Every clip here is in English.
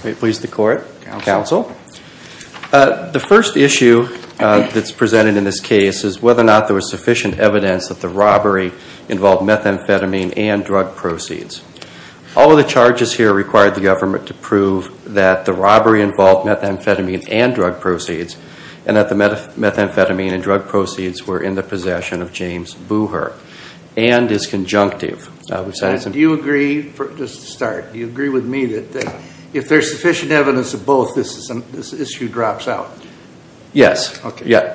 The first issue that's presented in this case is whether or not there was sufficient evidence that the robbery involved methamphetamine and drug proceeds. All of the charges here required the government to prove that the robbery involved methamphetamine and drug proceeds and that the methamphetamine and drug proceeds were in the possession of James Booher and is conjunctive. Do you agree, just to start, do you agree with me that if there's sufficient evidence of both this issue drops out? Yes.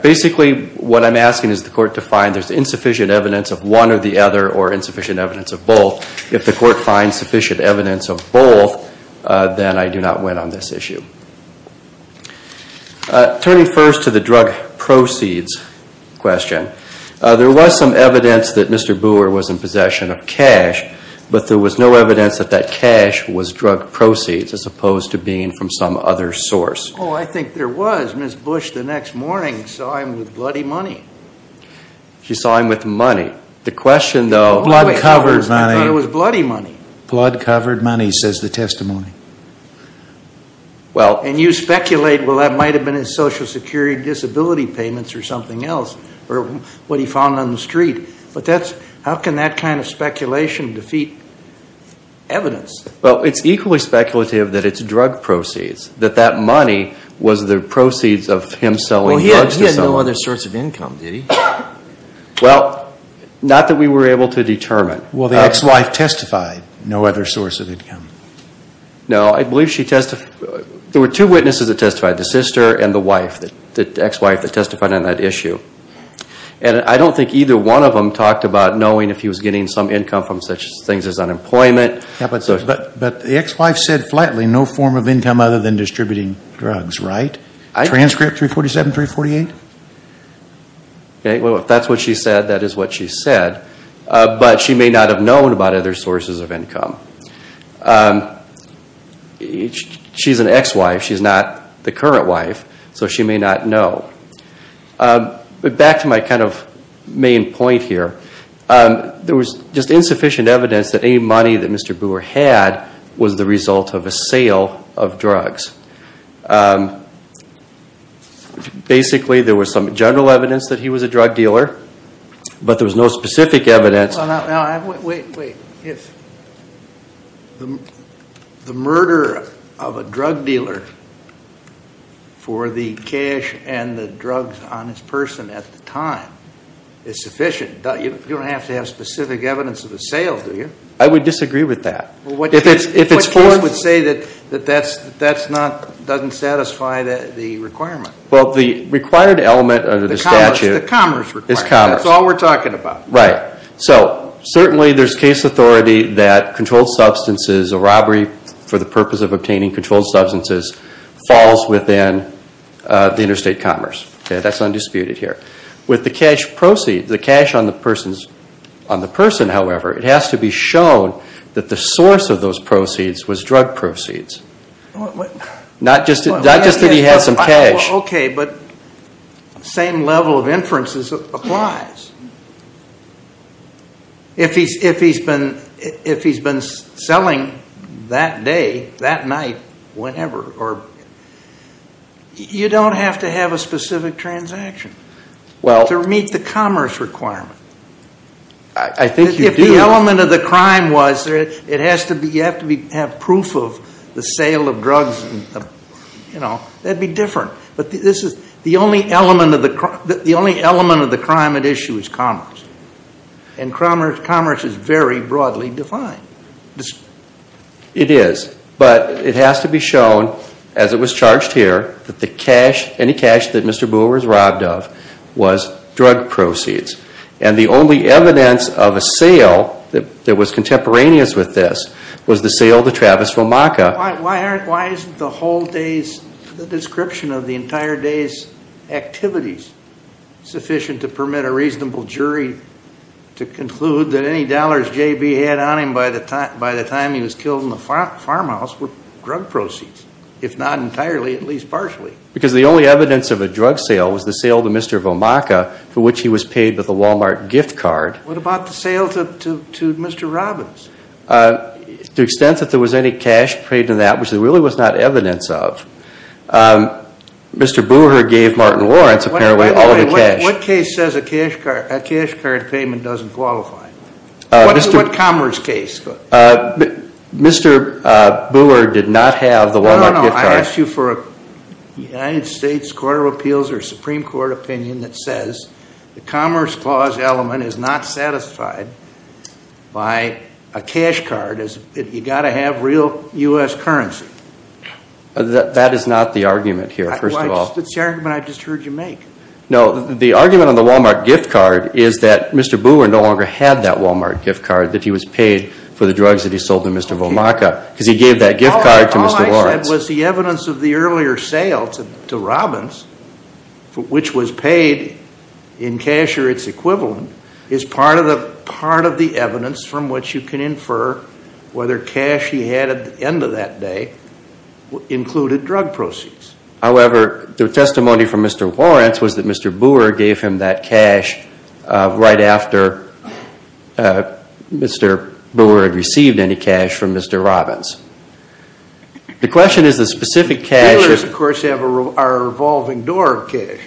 Basically what I'm asking is the court to find there's insufficient evidence of one or the other or insufficient evidence of both. If the court finds sufficient evidence of both, then I do not win on this issue. Turning first to the drug proceeds question, there was some evidence that Mr. Booher was in possession of cash, but there was no evidence that that cash was drug proceeds as opposed to being from some other source. Oh, I think there was. Ms. Bush the next morning saw him with bloody money. She saw him with money. The question though... Blood covered money. I thought it was bloody money. Blood covered money says the testimony. And you speculate, well, that might have been his Social Security disability payments or something else, or what he found on the street. But how can that kind of speculation defeat evidence? Well, it's equally speculative that it's drug proceeds, that that money was the proceeds of him selling drugs to someone. Well, he had no other source of income, did he? Well, not that we were able to determine. Well, the ex-wife testified, no other source of income. No, I believe she testified. There were two witnesses that testified, the sister and the wife, the ex-wife that testified on that issue. And I don't think either one of them talked about knowing if he was getting some income from such things as unemployment. But the ex-wife said flatly, no form of income other than distributing drugs, right? Transcript 347, 348? Well, if that's what she said, that is what she said. But she may not have known about other sources of income. She's an ex-wife, she's not the current wife, so she may not know. But back to my kind of main point here. There was just insufficient evidence that any money that Mr. Brewer had was the result of a sale of drugs. Basically, there was some general evidence that he was a drug dealer. But there was no specific evidence. Wait, wait. The murder of a drug dealer for the cash and the drugs on his person at the time is sufficient. You don't have to have specific evidence of a sale, do you? I would disagree with that. What case would say that that doesn't satisfy the requirement? Well, the required element under the statute is commerce. That's all we're talking about. Right. So certainly there's case authority that controlled substances, a robbery for the purpose of obtaining controlled substances, falls within the interstate commerce. That's undisputed here. With the cash on the person, however, it has to be shown that the source of those proceeds was drug proceeds. Not just that he had some cash. Okay, but the same level of inferences applies. If he's been selling that day, that night, whenever, you don't have to have a specific transaction to meet the commerce requirement. I think you do. If the element of the crime was you have to have proof of the sale of drugs, that would be different. The only element of the crime at issue is commerce. And commerce is very broadly defined. It is. But it has to be shown, as it was charged here, that any cash that Mr. Boer was robbed of was drug proceeds. And the only evidence of a sale that was contemporaneous with this was the sale to Travis Womaka. Why isn't the description of the entire day's activities sufficient to permit a reasonable jury to conclude that any dollars J.B. had on him by the time he was killed in the farmhouse were drug proceeds? If not entirely, at least partially. Because the only evidence of a drug sale was the sale to Mr. Womaka, for which he was paid with a Walmart gift card. What about the sale to Mr. Robbins? To the extent that there was any cash paid in that, which there really was not evidence of, Mr. Boer gave Martin Lawrence apparently all of the cash. Wait a minute. What case says a cash card payment doesn't qualify? What commerce case? Mr. Boer did not have the Walmart gift card. I asked you for a United States Court of Appeals or Supreme Court opinion that says the Commerce Clause element is not satisfied by a cash card. You've got to have real U.S. currency. That is not the argument here, first of all. It's the argument I just heard you make. No, the argument on the Walmart gift card is that Mr. Boer no longer had that Walmart gift card that he was paid for the drugs that he sold to Mr. Womaka. Because he gave that gift card to Mr. Lawrence. What you said was the evidence of the earlier sale to Robbins, which was paid in cash or its equivalent, is part of the evidence from which you can infer whether cash he had at the end of that day included drug proceeds. However, the testimony from Mr. Lawrence was that Mr. Boer gave him that cash right after Mr. Boer had received any cash from Mr. Robbins. The question is the specific cash... Dealers, of course, have a revolving door of cash.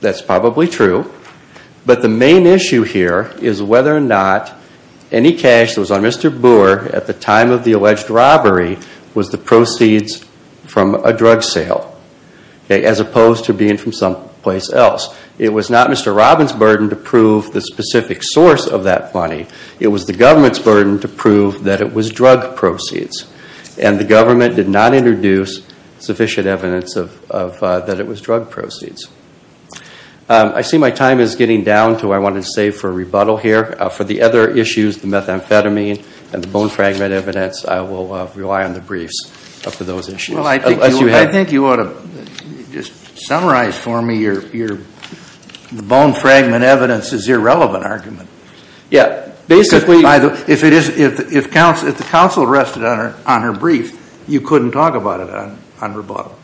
That's probably true. But the main issue here is whether or not any cash that was on Mr. Boer at the time of the alleged robbery was the proceeds from a drug sale, as opposed to being from someplace else. It was not Mr. Robbins' burden to prove the specific source of that money. It was the government's burden to prove that it was drug proceeds. And the government did not introduce sufficient evidence that it was drug proceeds. I see my time is getting down to where I wanted to save for a rebuttal here. For the other issues, the methamphetamine and the bone fragment evidence, I will rely on the briefs for those issues. I think you ought to just summarize for me your bone fragment evidence is irrelevant argument. Yeah, basically... If the counsel rested on her brief, you couldn't talk about it on rebuttal.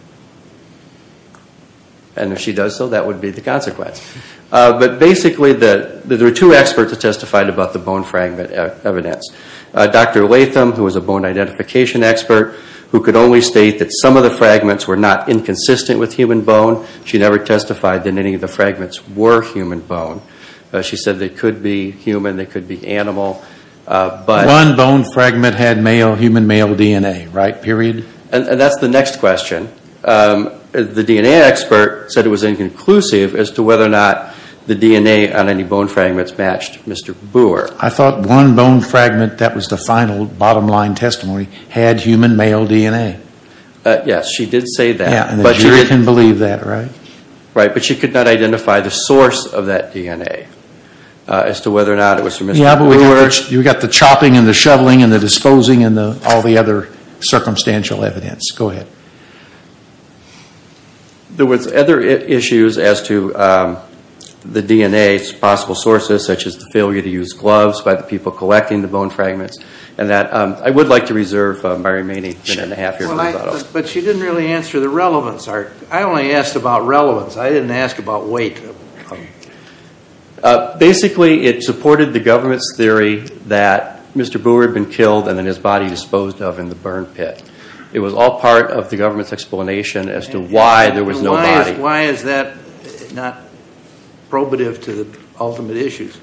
And if she does so, that would be the consequence. But basically, there were two experts that testified about the bone fragment evidence. Dr. Latham, who was a bone identification expert, who could only state that some of the fragments were not inconsistent with human bone. She never testified that any of the fragments were human bone. She said they could be human, they could be animal, but... One bone fragment had human male DNA, right? Period. And that's the next question. The DNA expert said it was inconclusive as to whether or not the DNA on any bone fragments matched Mr. Boor. I thought one bone fragment, that was the final bottom line testimony, had human male DNA. Yes, she did say that. And the jury can believe that, right? Right, but she could not identify the source of that DNA as to whether or not it was from Mr. Boor. Yeah, but we got the chopping and the shoveling and the disposing and all the other circumstantial evidence. Go ahead. There was other issues as to the DNA's possible sources, such as the failure to use gloves by the people collecting the bone fragments. And that, I would like to reserve my remaining minute and a half here for rebuttal. But she didn't really answer the relevance part. I only asked about relevance. I didn't ask about weight. Basically, it supported the government's theory that Mr. Boor had been killed and then his body disposed of in the burn pit. It was all part of the government's explanation as to why there was no body. Why is that not probative to the ultimate issues?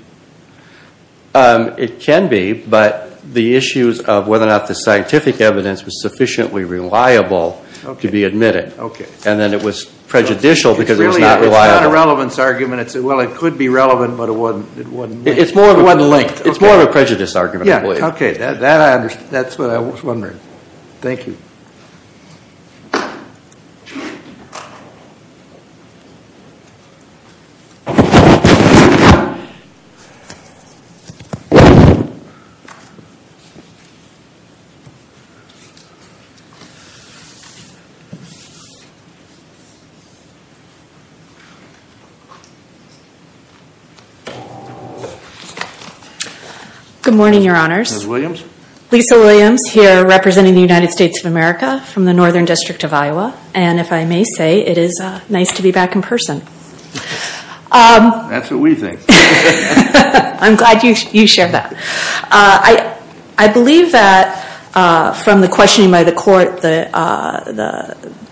It can be, but the issues of whether or not the scientific evidence was sufficiently reliable to be admitted. And then it was prejudicial because it was not reliable. It's not a relevance argument. Well, it could be relevant, but it wasn't linked. It's more of a prejudice argument, I believe. Okay, that's what I was wondering. Thank you. Ms. Williams. Good morning, Your Honors. Ms. Williams. Lisa Williams here representing the United States of America from the Northern District of Iowa. And if I may say, it is nice to be back in person. That's what we think. I'm glad you shared that. I believe that from the questioning by the court, the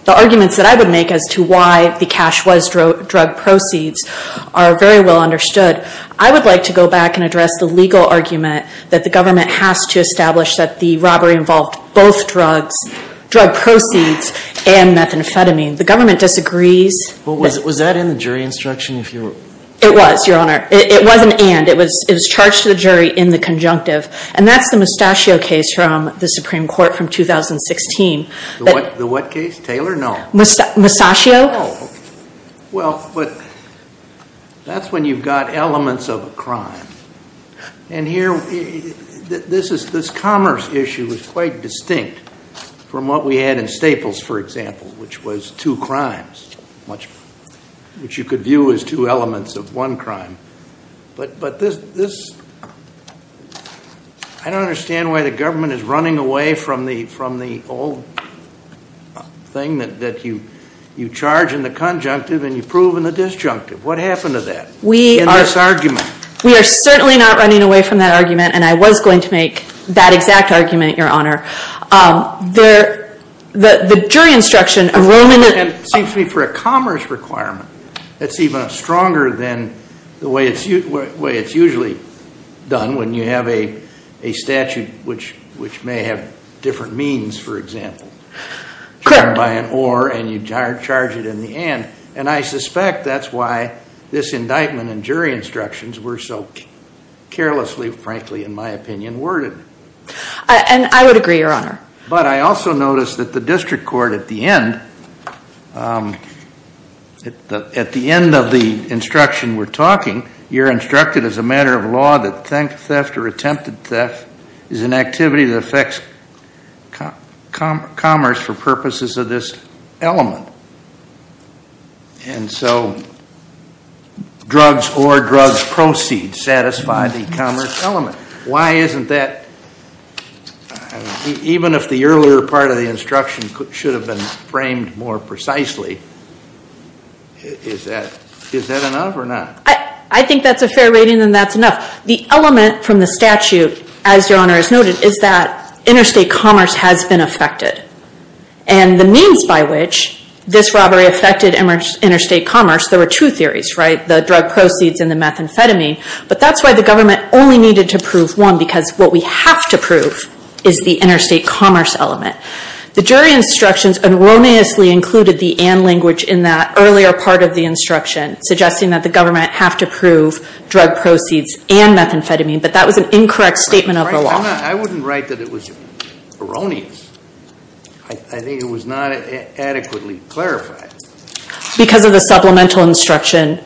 arguments that I would make as to why the cash was drug proceeds are very well understood. I would like to go back and address the legal argument that the government has to establish that the robbery involved both drugs, drug proceeds, and methamphetamine. The government disagrees. Was that in the jury instruction? It was, Your Honor. It wasn't and. It was charged to the jury in the conjunctive. And that's the Mustachio case from the Supreme Court from 2016. The what case? Taylor? No. Mustachio? Well, but that's when you've got elements of a crime. And here, this commerce issue is quite distinct from what we had in Staples, for example, which was two crimes, which you could view as two elements of one crime. But this, I don't understand why the government is running away from the old thing that you charge in the conjunctive and you prove in the disjunctive. What happened to that in this argument? We are certainly not running away from that argument, and I was going to make that exact argument, Your Honor. The jury instruction of Roman. It seems to me for a commerce requirement, it's even stronger than the way it's usually done when you have a statute which may have different means, for example. Correct. And I suspect that's why this indictment and jury instructions were so carelessly, frankly, in my opinion, worded. And I would agree, Your Honor. But I also notice that the district court, at the end of the instruction we're talking, you're instructed as a matter of law that theft or attempted theft is an activity that affects commerce for purposes of this element. And so drugs or drugs proceeds satisfy the commerce element. Why isn't that, even if the earlier part of the instruction should have been framed more precisely, is that enough or not? I think that's a fair rating and that's enough. The element from the statute, as Your Honor has noted, is that interstate commerce has been affected. And the means by which this robbery affected interstate commerce, there were two theories, right? The drug proceeds and the methamphetamine. But that's why the government only needed to prove one, because what we have to prove is the interstate commerce element. The jury instructions erroneously included the and language in that earlier part of the instruction, suggesting that the government have to prove drug proceeds and methamphetamine. But that was an incorrect statement of the law. I wouldn't write that it was erroneous. I think it was not adequately clarified. Because of the supplemental instruction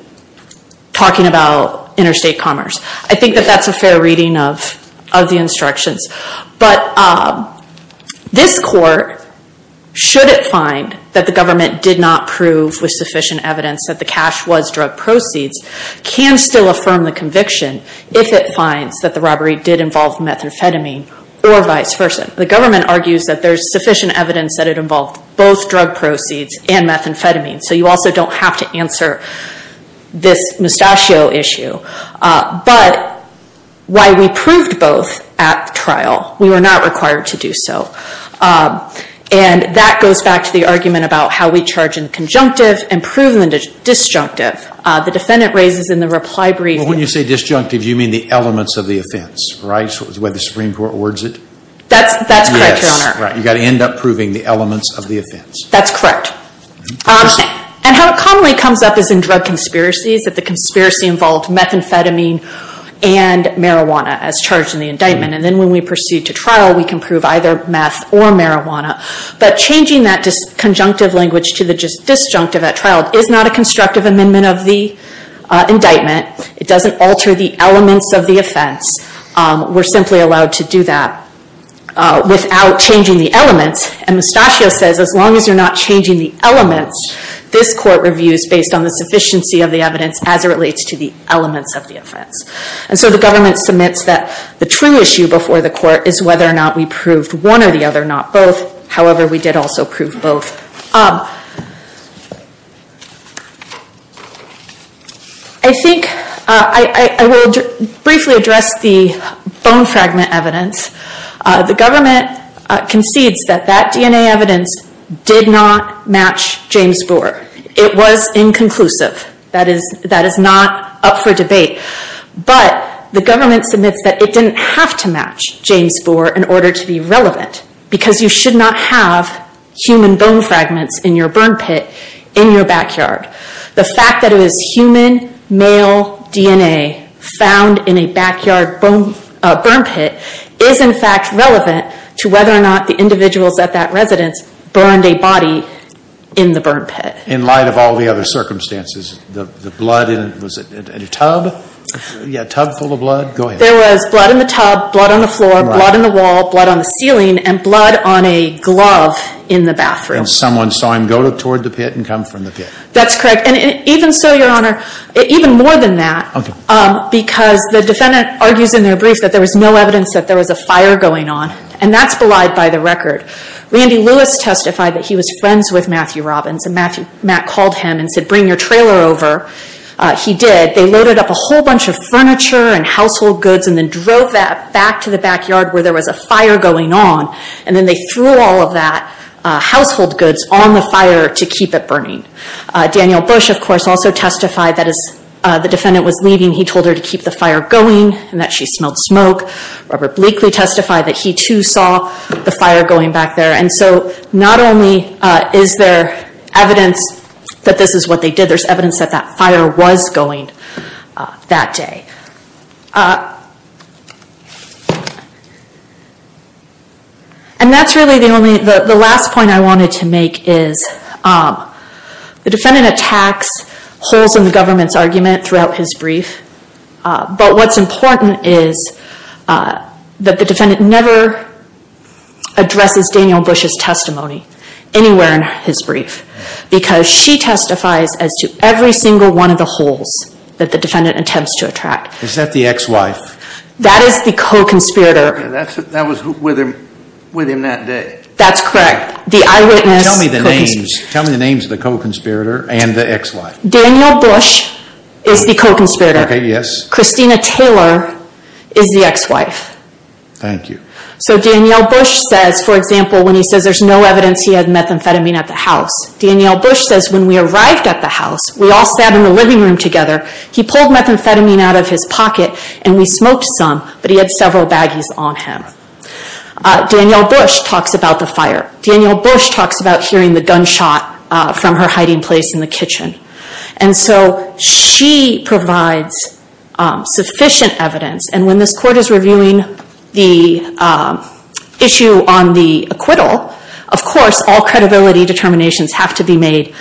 talking about interstate commerce. I think that that's a fair reading of the instructions. But this court, should it find that the government did not prove with sufficient evidence that the cash was drug proceeds, can still affirm the conviction if it finds that the robbery did involve methamphetamine or vice versa. The government argues that there's sufficient evidence that it involved both drug proceeds and methamphetamine. So you also don't have to answer this mustachio issue. But why we proved both at trial, we were not required to do so. And that goes back to the argument about how we charge in conjunctive and prove in disjunctive. The defendant raises in the reply briefing. When you say disjunctive, you mean the elements of the offense, right? The way the Supreme Court awards it? That's correct, Your Honor. You've got to end up proving the elements of the offense. That's correct. And how it commonly comes up is in drug conspiracies. That the conspiracy involved methamphetamine and marijuana as charged in the indictment. And then when we proceed to trial, we can prove either meth or marijuana. But changing that conjunctive language to the disjunctive at trial is not a constructive amendment of the indictment. It doesn't alter the elements of the offense. We're simply allowed to do that without changing the elements. And mustachio says as long as you're not changing the elements, this court reviews based on the sufficiency of the evidence as it relates to the elements of the offense. And so the government submits that the true issue before the court is whether or not we proved one or the other, not both. However, we did also prove both. I think I will briefly address the bone fragment evidence. The government concedes that that DNA evidence did not match James Boer. It was inconclusive. That is not up for debate. But the government submits that it didn't have to match James Boer in order to be relevant. Because you should not have human bone fragments in your burn pit in your backyard. The fact that it was human male DNA found in a backyard burn pit is in fact relevant to whether or not the individuals at that residence burned a body in the burn pit. In light of all the other circumstances, the blood, was it a tub full of blood? There was blood in the tub, blood on the floor, blood in the wall, blood on the ceiling, and blood on a glove in the bathroom. And someone saw him go toward the pit and come from the pit? That's correct. And even so, Your Honor, even more than that, because the defendant argues in their brief that there was no evidence that there was a fire going on. And that's belied by the record. Randy Lewis testified that he was friends with Matthew Robbins. And Matt called him and said, bring your trailer over. He did. They loaded up a whole bunch of furniture and household goods and then drove that back to the backyard where there was a fire going on. And then they threw all of that household goods on the fire to keep it burning. Daniel Bush, of course, also testified that as the defendant was leaving, he told her to keep the fire going and that she smelled smoke. Robert Bleakley testified that he too saw the fire going back there. And so not only is there evidence that this is what they did, but there's evidence that that fire was going that day. And that's really the only, the last point I wanted to make is the defendant attacks holes in the government's argument throughout his brief. But what's important is that the defendant never addresses Daniel Bush's testimony anywhere in his brief. Because she testifies as to every single one of the holes that the defendant attempts to attract. Is that the ex-wife? That is the co-conspirator. That was with him that day. That's correct. Tell me the names of the co-conspirator and the ex-wife. Daniel Bush is the co-conspirator. Christina Taylor is the ex-wife. Thank you. So Daniel Bush says, for example, when he says there's no evidence he had methamphetamine at the house, Daniel Bush says when we arrived at the house, we all sat in the living room together, he pulled methamphetamine out of his pocket and we smoked some, but he had several baggies on him. Daniel Bush talks about the fire. Daniel Bush talks about hearing the gunshot from her hiding place in the kitchen. And so she provides sufficient evidence. And when this court is reviewing the issue on the acquittal, of course all credibility determinations have to be made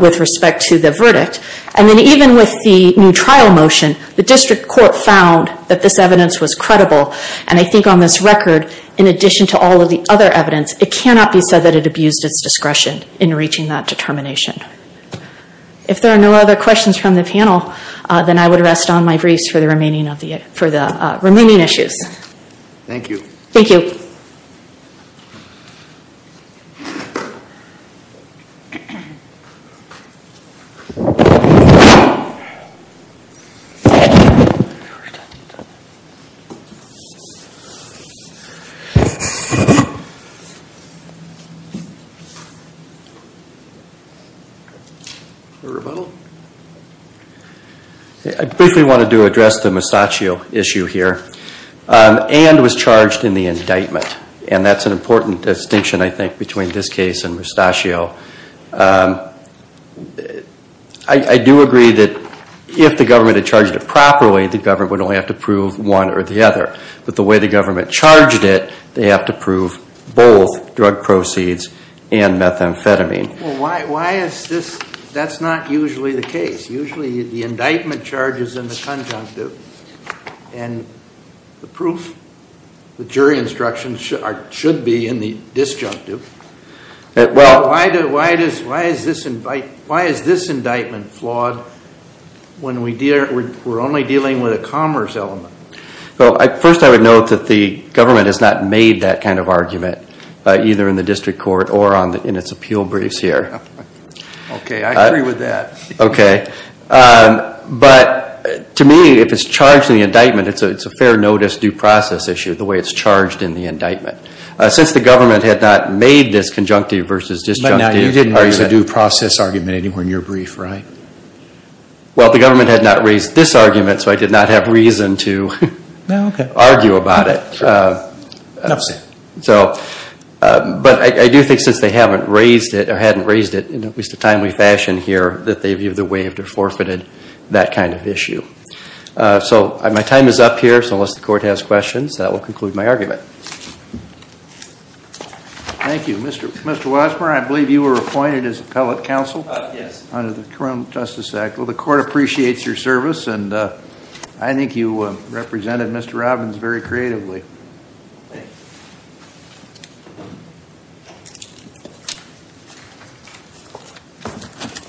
with respect to the verdict. And then even with the new trial motion, the district court found that this evidence was credible. And I think on this record, in addition to all of the other evidence, it cannot be said that it abused its discretion in reaching that determination. If there are no other questions from the panel, then I would rest on my briefs for the remaining issues. Thank you. Thank you. I briefly wanted to address the mustachio issue here. And was charged in the indictment. And that's an important distinction I think between this case and mustachio. I do agree that if the government had charged it properly, the government would only have to prove one or the other. But the way the government charged it, they have to prove both drug proceeds and methamphetamine. Why is this, that's not usually the case. Usually the indictment charges in the conjunctive. And the proof, the jury instructions should be in the disjunctive. Why is this indictment flawed when we're only dealing with a commerce element? First I would note that the government has not made that kind of argument, either in the district court or in its appeal briefs here. Okay, I agree with that. Okay. But to me, if it's charged in the indictment, it's a fair notice due process issue the way it's charged in the indictment. Since the government had not made this conjunctive versus disjunctive argument. You didn't raise a due process argument anywhere in your brief, right? Well, the government had not raised this argument, so I did not have reason to argue about it. I see. So, but I do think since they haven't raised it, or hadn't raised it in at least a timely fashion here, that they've either waived or forfeited that kind of issue. So, my time is up here, so unless the court has questions, that will conclude my argument. Thank you. Mr. Wasmer, I believe you were appointed as appellate counsel? Yes. Under the Criminal Justice Act. Well, the court appreciates your service, and I think you represented Mr. Robbins very creatively. Thank you.